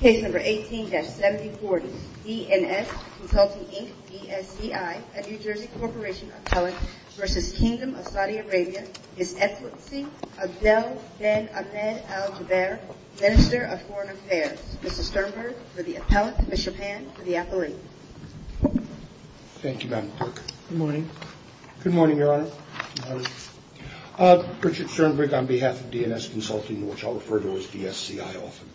Case number 18-7040, D&S Consulting, Inc. v. DSCI, a New Jersey Corporation appellate v. Kingdom of Saudi Arabia, His Excellency Abdel Ben Ahmed Al-Jubeir, Minister of Foreign Affairs. Mr. Sternberg, for the appellate, Commissioner Pan, for the appellate. Thank you, Madam Clerk. Good morning. Good morning, Your Honor. Richard Sternberg on behalf of D&S Consulting, which I'll refer to as DSCI often.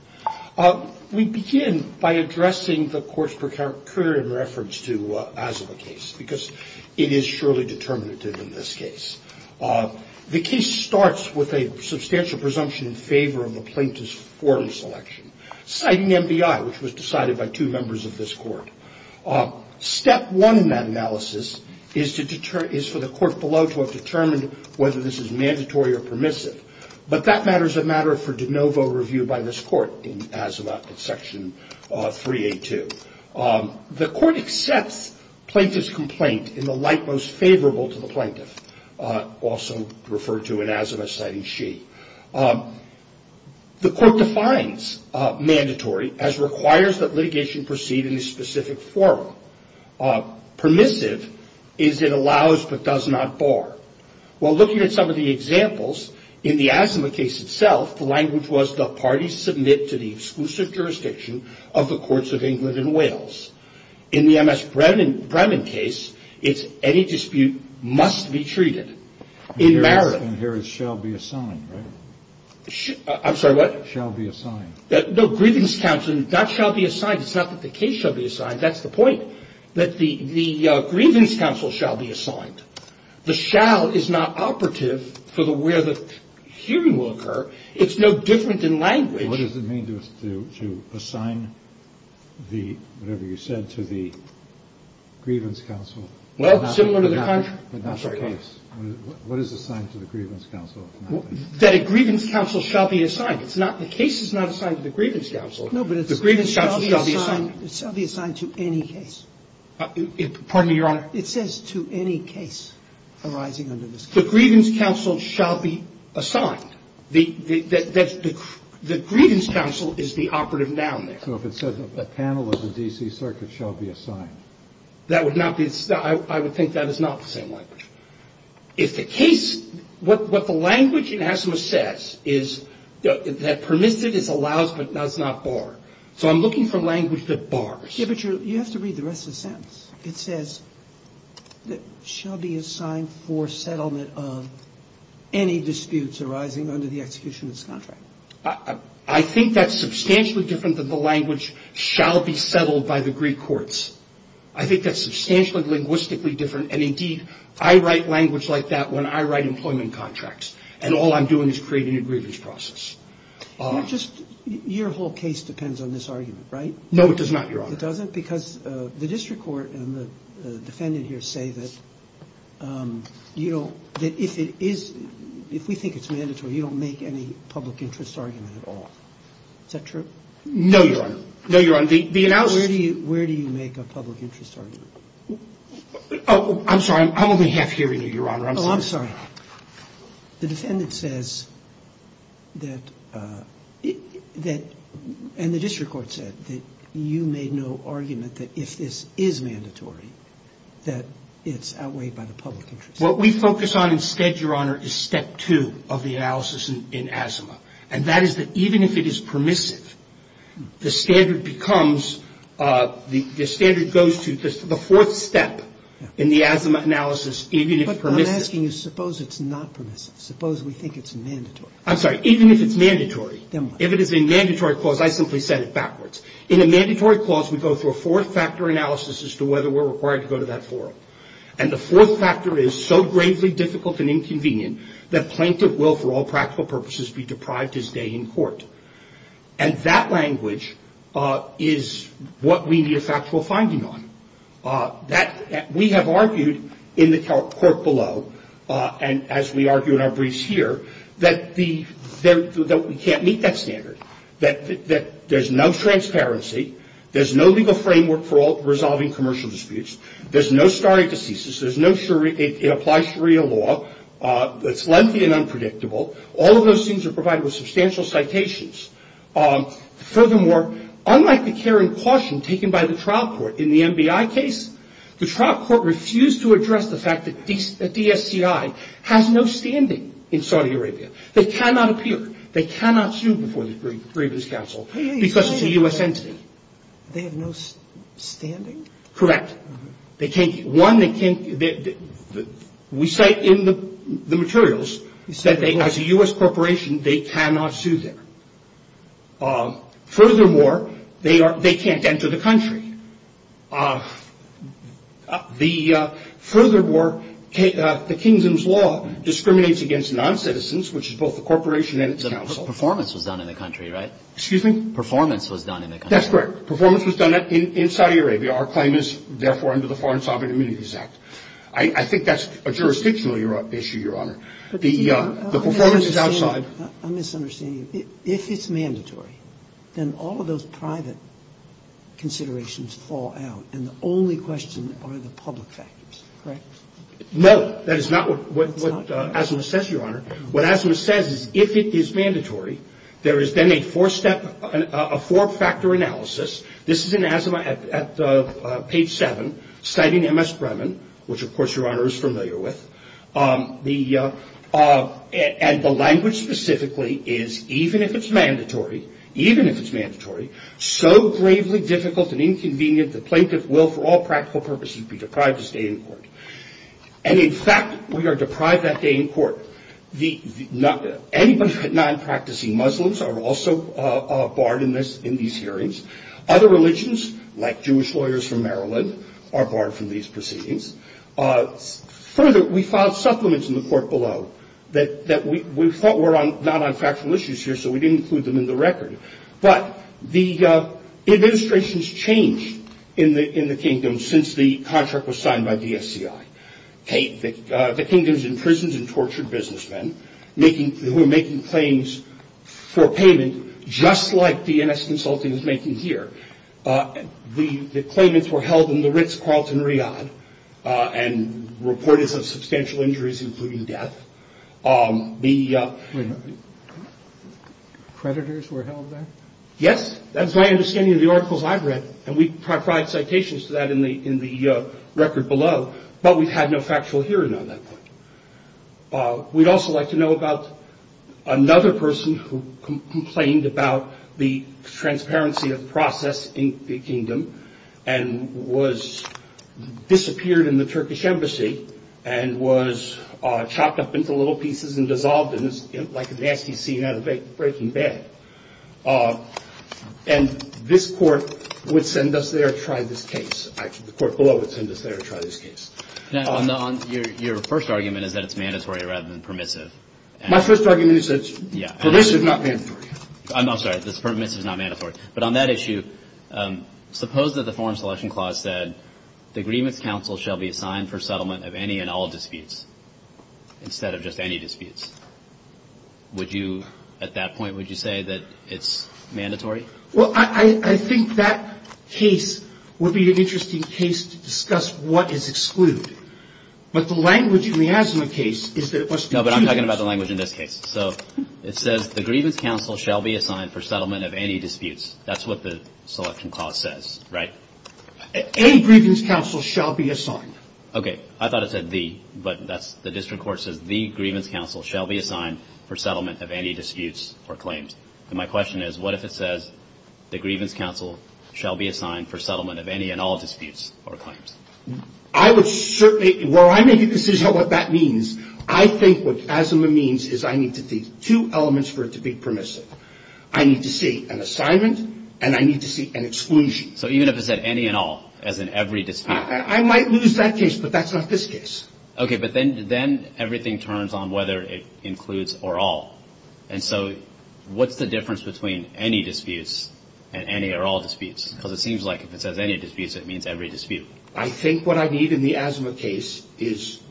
We begin by addressing the court's precurion reference to Asaba case, because it is surely determinative in this case. The case starts with a substantial presumption in favor of the plaintiff's forum selection, citing MBI, which was decided by two members of this court. Step one in that analysis is for the court below to have determined whether this is mandatory or permissive. But that matter is a matter for de novo review by this court in Asaba section 382. The court accepts plaintiff's complaint in the light most favorable to the plaintiff, also referred to in Asaba, citing she. The court defines mandatory as requires that litigation proceed in a specific forum. Permissive is it allows but does not bar. While looking at some of the examples in the Asaba case itself, the language was the parties submit to the exclusive jurisdiction of the courts of England and Wales. In the M.S. Bremen case, it's any dispute must be treated in merit. And here is shall be assigned. I'm sorry, what shall be assigned? No grievance counts and that shall be assigned. It's not that the case shall be assigned. That's the point that the grievance counsel shall be assigned. The shall is not operative for the where the hearing will occur. It's no different in language. What does it mean to do to assign the whatever you said to the grievance counsel? Well, similar to the country. What is assigned to the grievance counsel? That a grievance counsel shall be assigned. It's not the case is not assigned to the grievance counsel. No, but it's a grievance shall be assigned. It shall be assigned to any case. Pardon me, Your Honor. It says to any case arising under this case. The grievance counsel shall be assigned. The grievance counsel is the operative noun there. So if it says a panel of the D.C. Circuit shall be assigned. That would not be I would think that is not the same language. If the case what the language in ASMA says is that permitted is allows but does not bar. So I'm looking for language that bars. But you have to read the rest of the sentence. It says that shall be assigned for settlement of any disputes arising under the execution of this contract. I think that's substantially different than the language shall be settled by the Greek courts. I think that's substantially linguistically different. And, indeed, I write language like that when I write employment contracts. And all I'm doing is creating a grievance process. Your whole case depends on this argument, right? No, it does not, Your Honor. It doesn't? Because the district court and the defendant here say that, you know, that if it is if we think it's mandatory, you don't make any public interest argument at all. Is that true? No, Your Honor. No, Your Honor. The analysis. Where do you make a public interest argument? Oh, I'm sorry. I'm only half hearing you, Your Honor. Oh, I'm sorry. The defendant says that that and the district court said that you made no argument that if this is mandatory, that it's outweighed by the public interest. What we focus on instead, Your Honor, is step two of the analysis in asthma. And that is that even if it is permissive, the standard becomes the standard goes to the fourth step in the asthma analysis, even if permissive. But what I'm asking is suppose it's not permissive. Suppose we think it's mandatory. I'm sorry. Even if it's mandatory. Then what? If it is a mandatory clause, I simply set it backwards. In a mandatory clause, we go through a fourth-factor analysis as to whether we're required to go to that forum. And the fourth factor is so gravely difficult and inconvenient that plaintiff will, for all practical purposes, be deprived his day in court. And that language is what we need a factual finding on. We have argued in the court below, and as we argue in our briefs here, that we can't meet that standard, that there's no transparency, there's no legal framework for resolving commercial disputes, there's no starting to ceases, it applies Sharia law, it's lengthy and unpredictable. All of those things are provided with substantial citations. Furthermore, unlike the care and caution taken by the trial court in the MBI case, the trial court refused to address the fact that DSCI has no standing in Saudi Arabia. They cannot appear. They cannot sue before the grievance council because it's a U.S. entity. They have no standing? Correct. They can't be. One, we cite in the materials that as a U.S. corporation, they cannot sue there. Furthermore, they can't enter the country. Furthermore, the kingdom's law discriminates against non-citizens, which is both the corporation and its council. But performance was done in the country, right? Excuse me? Performance was done in the country. That's correct. Performance was done in Saudi Arabia. Our claim is, therefore, under the foreign sovereign immunities act. I think that's a jurisdictional issue, Your Honor. The performance is outside. I'm misunderstanding you. If it's mandatory, then all of those private considerations fall out, and the only questions are the public factors, correct? That is not what Asimov says, Your Honor. What Asimov says is if it is mandatory, there is then a four-factor analysis. This is in Asimov at page 7, citing M.S. Bremen, which, of course, Your Honor is familiar with. And the language specifically is even if it's mandatory, even if it's mandatory, so gravely difficult and inconvenient, the plaintiff will, for all practical purposes, be deprived to stay in court. And, in fact, we are deprived that day in court. Anybody but non-practicing Muslims are also barred in these hearings. Other religions, like Jewish lawyers from Maryland, are barred from these proceedings. Further, we filed supplements in the court below that we thought were not on factual issues here, so we didn't include them in the record. But the administrations changed in the kingdom since the contract was signed by DSCI. The kingdoms imprisoned and tortured businessmen who were making claims for payment, just like DNS Consulting is making here. The claimants were held in the Ritz-Carlton Riyadh and reported some substantial injuries, including death. The ‑‑ Creditors were held there? Yes. That is my understanding of the articles I've read. And we provide citations to that in the record below. But we've had no factual hearing on that point. We'd also like to know about another person who complained about the transparency of the process in the kingdom and disappeared in the Turkish embassy and was chopped up into little pieces and dissolved like a nasty scene out of Breaking Bad. And this Court would send us there to try this case. The court below would send us there to try this case. Your first argument is that it's mandatory rather than permissive. My first argument is that it's permissive, not mandatory. I'm sorry. It's permissive, not mandatory. But on that issue, suppose that the Foreign Selection Clause said, the agreements counsel shall be assigned for settlement of any and all disputes instead of just any disputes. Would you, at that point, would you say that it's mandatory? Well, I think that case would be an interesting case to discuss what is excluded. But the language in the Asimov case is that it must be ‑‑ No, but I'm talking about the language in this case. So it says, the agreements counsel shall be assigned for settlement of any disputes. That's what the Selection Clause says, right? Any agreements counsel shall be assigned. Okay. I thought it said the. But that's, the district court says, the agreements counsel shall be assigned for settlement of any disputes or claims. And my question is, what if it says, the agreements counsel shall be assigned for settlement of any and all disputes or claims? I would certainly, well, I make a decision on what that means. I think what Asimov means is I need to see two elements for it to be permissive. I need to see an assignment, and I need to see an exclusion. So even if it said any and all, as in every dispute. I might lose that case, but that's not this case. Okay, but then everything turns on whether it includes or all. And so what's the difference between any disputes and any or all disputes? Because it seems like if it says any disputes, it means every dispute. I think what I need in the Asimov case is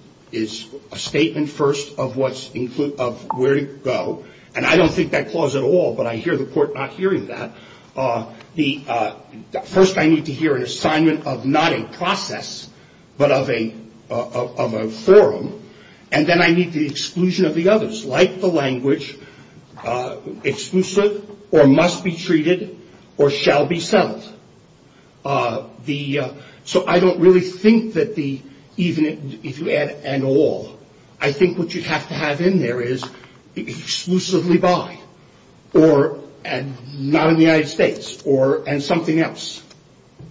a statement first of what's included, of where to go. And I don't think that clause at all, but I hear the court not hearing that. First I need to hear an assignment of not a process, but of a forum. And then I need the exclusion of the others. Like the language, exclusive or must be treated or shall be settled. So I don't really think that the, even if you add and all, I think what you have to have in there is exclusively by. And not in the United States, and something else.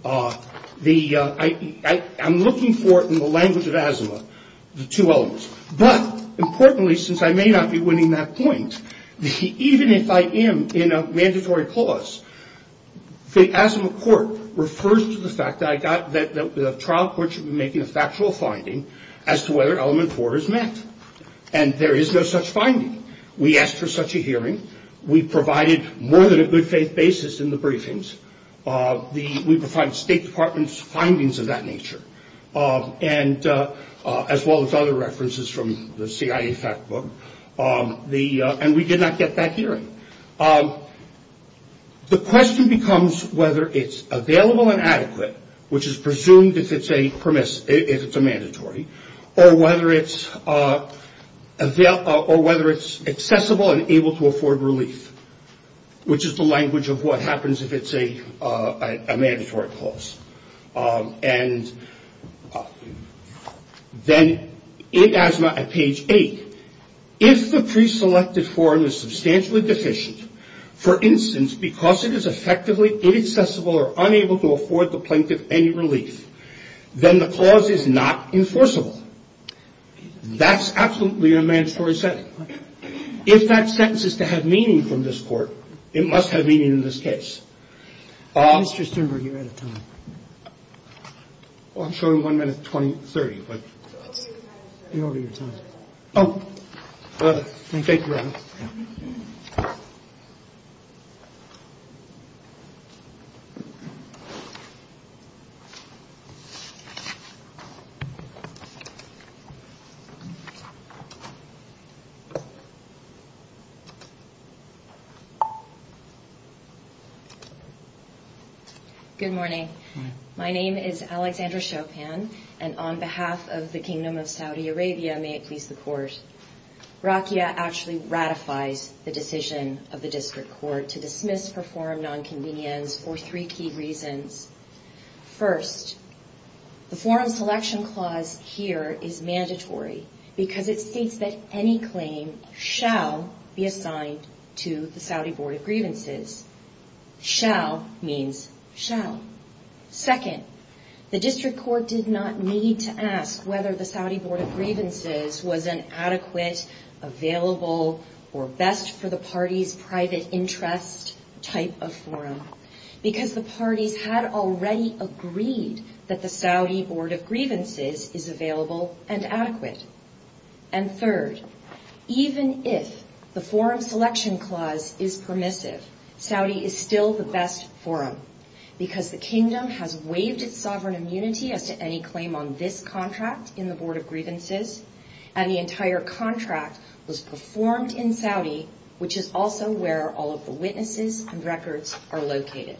I'm looking for, in the language of Asimov, the two elements. But importantly, since I may not be winning that point, even if I am in a mandatory clause, the Asimov court refers to the fact that the trial court should be making a factual finding as to whether element four is met. And there is no such finding. We asked for such a hearing. We provided more than a good faith basis in the briefings. We provided State Department's findings of that nature, as well as other references from the CIA fact book. And we did not get that hearing. The question becomes whether it's available and adequate, which is presumed if it's a mandatory, or whether it's accessible and able to afford relief, which is the language of what happens if it's a mandatory clause. And then in Asimov at page eight, if the preselected form is substantially deficient, for instance, because it is effectively inaccessible or unable to afford the plaintiff any relief, then the clause is not enforceable. That's absolutely a mandatory setting. If that sentence is to have meaning from this Court, it must have meaning in this case. Mr. Sternberg, you're out of time. I'm showing one minute 20, 30. You're out of your time. Oh. Thank you. Good morning. Good morning. My name is Alexandra Chopin, and on behalf of the Kingdom of Saudi Arabia, may it please the Court, Rakhia actually ratifies the decision of the District Court to dismiss her forum nonconvenience for three key reasons. First, the forum selection clause here is mandatory because it states that any claim shall be assigned to the Saudi Board of Grievances. Shall means shall. Second, the District Court did not need to ask whether the Saudi Board of Grievances was an adequate, available, or best-for-the-party's-private-interest type of forum, because the parties had already agreed that the Saudi Board of Grievances is available and adequate. And third, even if the forum selection clause is permissive, Saudi is still the best forum, because the Kingdom has waived its sovereign immunity as to any claim on this contract in the Board of Grievances, and the entire contract was performed in Saudi, which is also where all of the witnesses and records are located.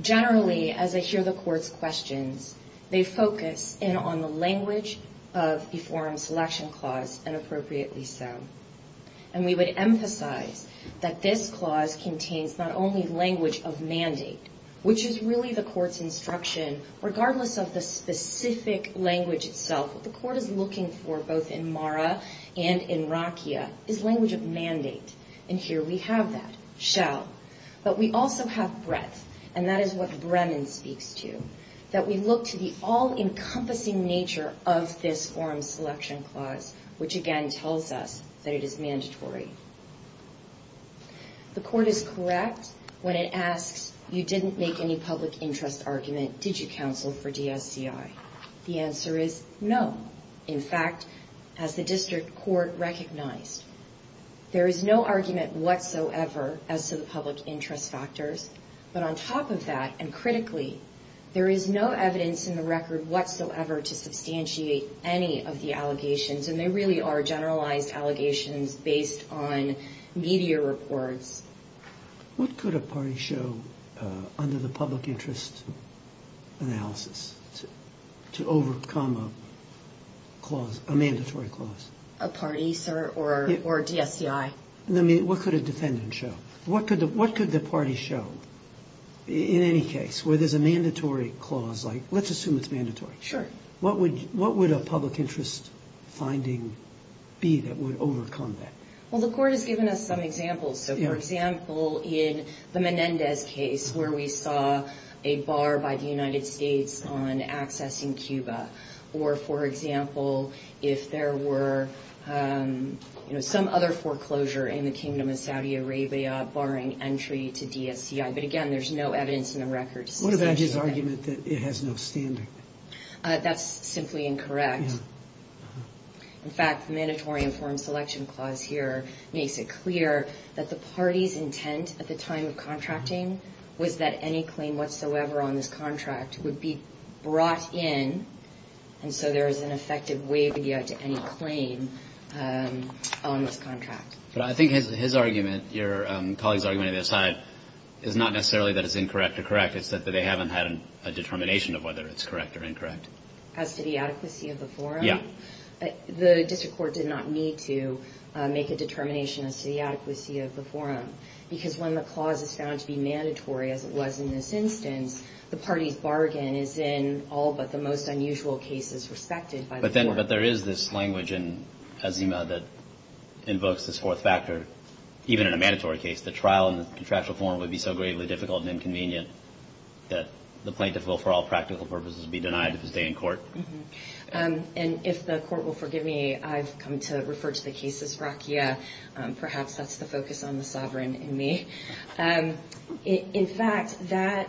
Generally, as I hear the Court's questions, they focus in on the language of the forum selection clause, and appropriately so. And we would emphasize that this clause contains not only language of mandate, which is really the Court's instruction, regardless of the specific language itself. What the Court is looking for, both in Mara and in Rakhia, is language of mandate. And here we have that, shall. But we also have breadth, and that is what Bremen speaks to, that we look to the all-encompassing nature of this forum selection clause, which again tells us that it is mandatory. The Court is correct when it asks, you didn't make any public interest argument, did you counsel for DSCI? The answer is no. In fact, as the District Court recognized, there is no argument whatsoever as to the public interest factors. But on top of that, and critically, there is no evidence in the record whatsoever to substantiate any of the allegations, and they really are generalized allegations based on media reports. What could a party show under the public interest analysis to overcome a mandatory clause? A party, sir, or DSCI? No, I mean, what could a defendant show? What could the party show, in any case, where there's a mandatory clause? Let's assume it's mandatory. Sure. What would a public interest finding be that would overcome that? Well, the Court has given us some examples. So, for example, in the Menendez case, where we saw a bar by the United States on accessing Cuba. Or, for example, if there were some other foreclosure in the Kingdom of Saudi Arabia barring entry to DSCI. But, again, there's no evidence in the record to substantiate that. What about his argument that it has no standard? That's simply incorrect. In fact, the mandatory informed selection clause here makes it clear that the party's intent at the time of contracting was that any claim whatsoever on this contract would be brought in. And so there is an effective way to get to any claim on this contract. But I think his argument, your colleagues' argument, aside, is not necessarily that it's incorrect or correct. It's that they haven't had a determination of whether it's correct or incorrect. As to the adequacy of the forum? Yeah. The district court did not need to make a determination as to the adequacy of the forum. Because when the clause is found to be mandatory, as it was in this instance, the party's bargain is in all but the most unusual cases respected by the court. But there is this language in Azima that invokes this fourth factor. Even in a mandatory case, the trial in the contractual forum would be so gravely difficult and inconvenient that the plaintiff will, for all practical purposes, be denied his day in court. And if the court will forgive me, I've come to refer to the case as rakia. Perhaps that's the focus on the sovereign in me. In fact, that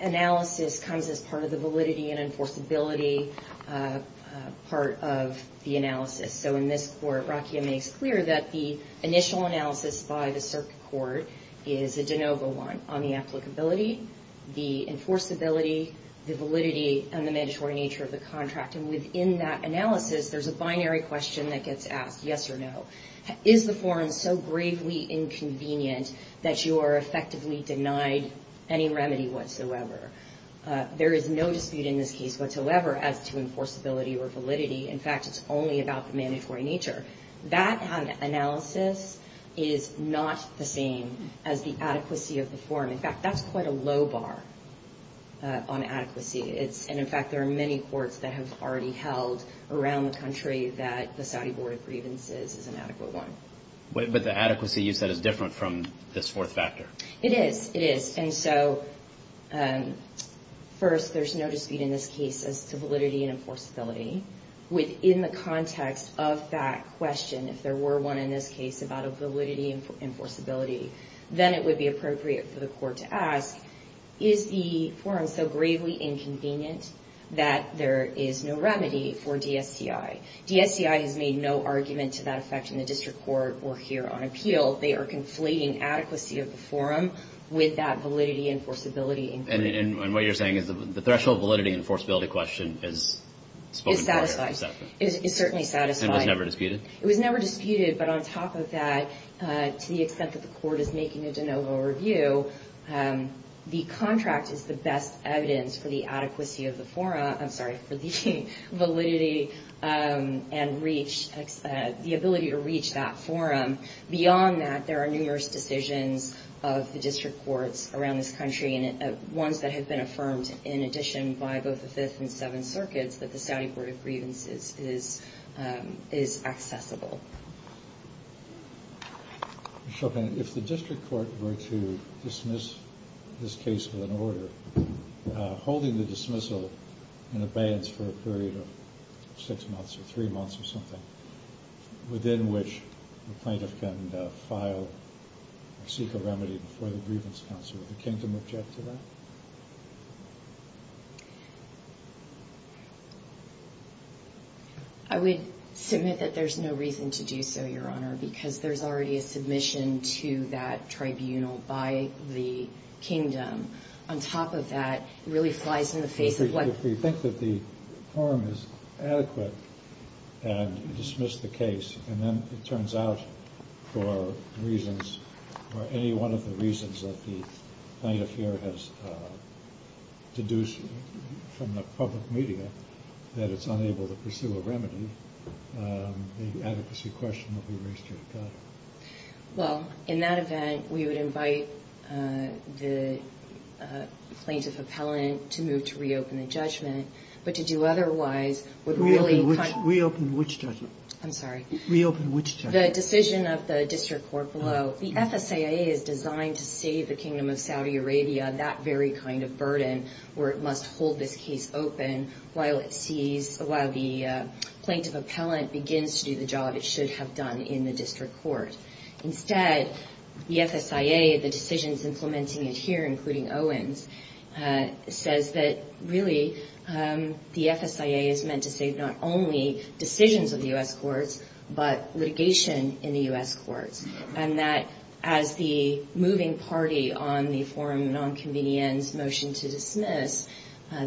analysis comes as part of the validity and enforceability part of the analysis. So in this court, rakia makes clear that the initial analysis by the circuit court is a de novo one on the applicability, the enforceability, the validity, and the mandatory nature of the contract. And within that analysis, there's a binary question that gets asked, yes or no. Is the forum so gravely inconvenient that you are effectively denied any remedy whatsoever? There is no dispute in this case whatsoever as to enforceability or validity. In fact, it's only about the mandatory nature. That analysis is not the same as the adequacy of the forum. In fact, that's quite a low bar on adequacy. And in fact, there are many courts that have already held around the country that the Saudi Board of Grievances is an adequate one. But the adequacy, you said, is different from this fourth factor. It is. It is. And so first, there's no dispute in this case as to validity and enforceability. Within the context of that question, if there were one in this case about a validity and enforceability, then it would be appropriate for the court to ask, is the forum so gravely inconvenient that there is no remedy for DSDI? DSDI has made no argument to that effect in the district court or here on appeal. They are conflating adequacy of the forum with that validity and enforceability inquiry. And what you're saying is the threshold validity and enforceability question is spoken for? It's satisfied. It's certainly satisfied. And was never disputed? It was never disputed. But on top of that, to the extent that the court is making a de novo review, the contract is the best evidence for the adequacy of the forum. I'm sorry, for the validity and reach, the ability to reach that forum. Beyond that, there are numerous decisions of the district courts around this country, ones that have been affirmed in addition by both the Fifth and Seventh Circuits, that the Saudi Court of Grievances is accessible. If the district court were to dismiss this case with an order, holding the dismissal in abeyance for a period of six months or three months or something, within which the plaintiff can file or seek a remedy before the grievance counsel, would the kingdom object to that? I would submit that there's no reason to do so, Your Honor, because there's already a submission to that tribunal by the kingdom. On top of that, it really flies in the face of what If we think that the forum is adequate and dismiss the case, and then it turns out for reasons, or any one of the reasons that the plaintiff here has deduced from the public media that it's unable to pursue a remedy, the adequacy question will be raised here to God. Well, in that event, we would invite the plaintiff appellant to move to reopen the judgment. But to do otherwise would really Reopen which judgment? I'm sorry. Reopen which judgment? The decision of the district court below. The FSAA is designed to save the kingdom of Saudi Arabia that very kind of burden, where it must hold this case open while it sees while the plaintiff appellant begins to do the job it should have done in the district court. Instead, the FSAA, the decisions implementing it here, including Owens, says that really the FSAA is meant to save not only decisions of the U.S. courts, but litigation in the U.S. courts, and that as the moving party on the forum nonconvenience motion to dismiss,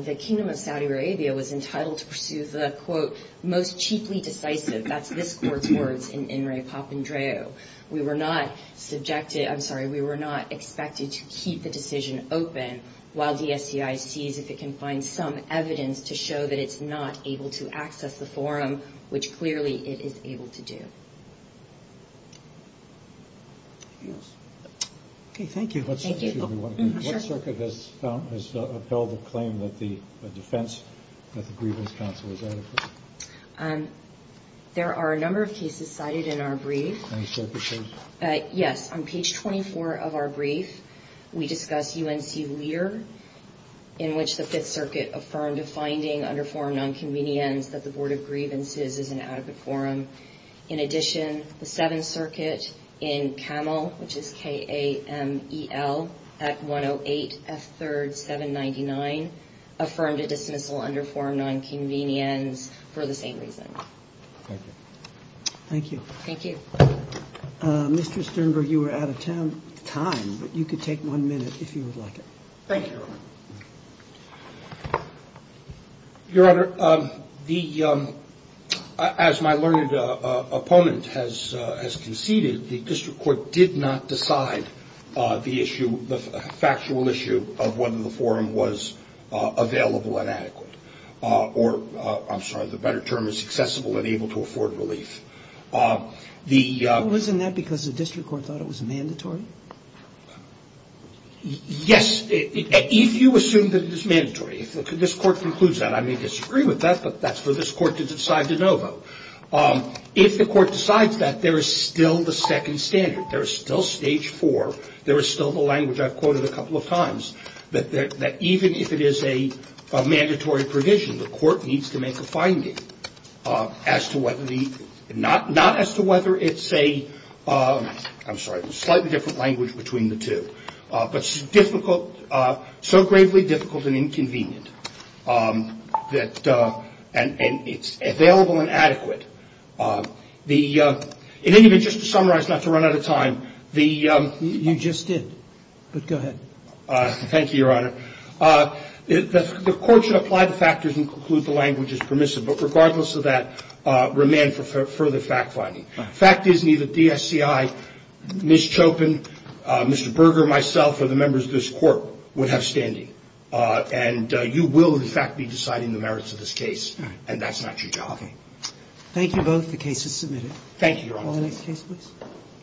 the kingdom of Saudi Arabia was entitled to pursue the, quote, most cheaply decisive. That's this court's words in in Ray Papandreou. We were not subjected. I'm sorry. We were not expected to keep the decision open while the FBI sees if it can find some evidence to show that it's not able to access the forum, which clearly it is able to do. Yes. Okay. Thank you. What circuit has upheld the claim that the defense, that the grievance counsel was adequate? There are a number of cases cited in our brief. Any circuit cases? Yes. On page 24 of our brief, we discuss UNC Lear, in which the Fifth Circuit affirmed a finding under forum nonconvenience that the Board of Grievances is an adequate forum. In addition, the Seventh Circuit in KAMEL, which is K-A-M-E-L, Act 108, F-3rd, 799, affirmed a dismissal under forum nonconvenience for the same reason. Thank you. Thank you. Thank you. Mr. Sternberg, you were out of time, but you could take one minute if you would like it. Thank you, Your Honor. Your Honor, the, as my learned opponent has conceded, the district court did not decide the issue, the factual issue of whether the forum was available and adequate or, I'm sorry, the better term is accessible and able to afford relief. Well, isn't that because the district court thought it was mandatory? Yes. If you assume that it is mandatory, if this court concludes that, I may disagree with that, but that's for this court to decide de novo. If the court decides that, there is still the second standard. There is still stage four. There is still the language I've quoted a couple of times, that even if it is a mandatory provision, the court needs to make a finding as to whether the, not as to whether it's a, I'm sorry, a slightly different language between the two, but difficult, so gravely difficult and inconvenient that, and it's available and adequate. In any event, just to summarize, not to run out of time. You just did, but go ahead. Thank you, Your Honor. The court should apply the factors and conclude the language is permissive, but regardless of that, remand for further fact finding. Fact is neither DSCI, Ms. Chopin, Mr. Berger, myself, or the members of this court would have standing, and you will, in fact, be deciding the merits of this case, and that's not your job. Okay. Thank you both. The case is submitted. Thank you, Your Honor. Next case, please.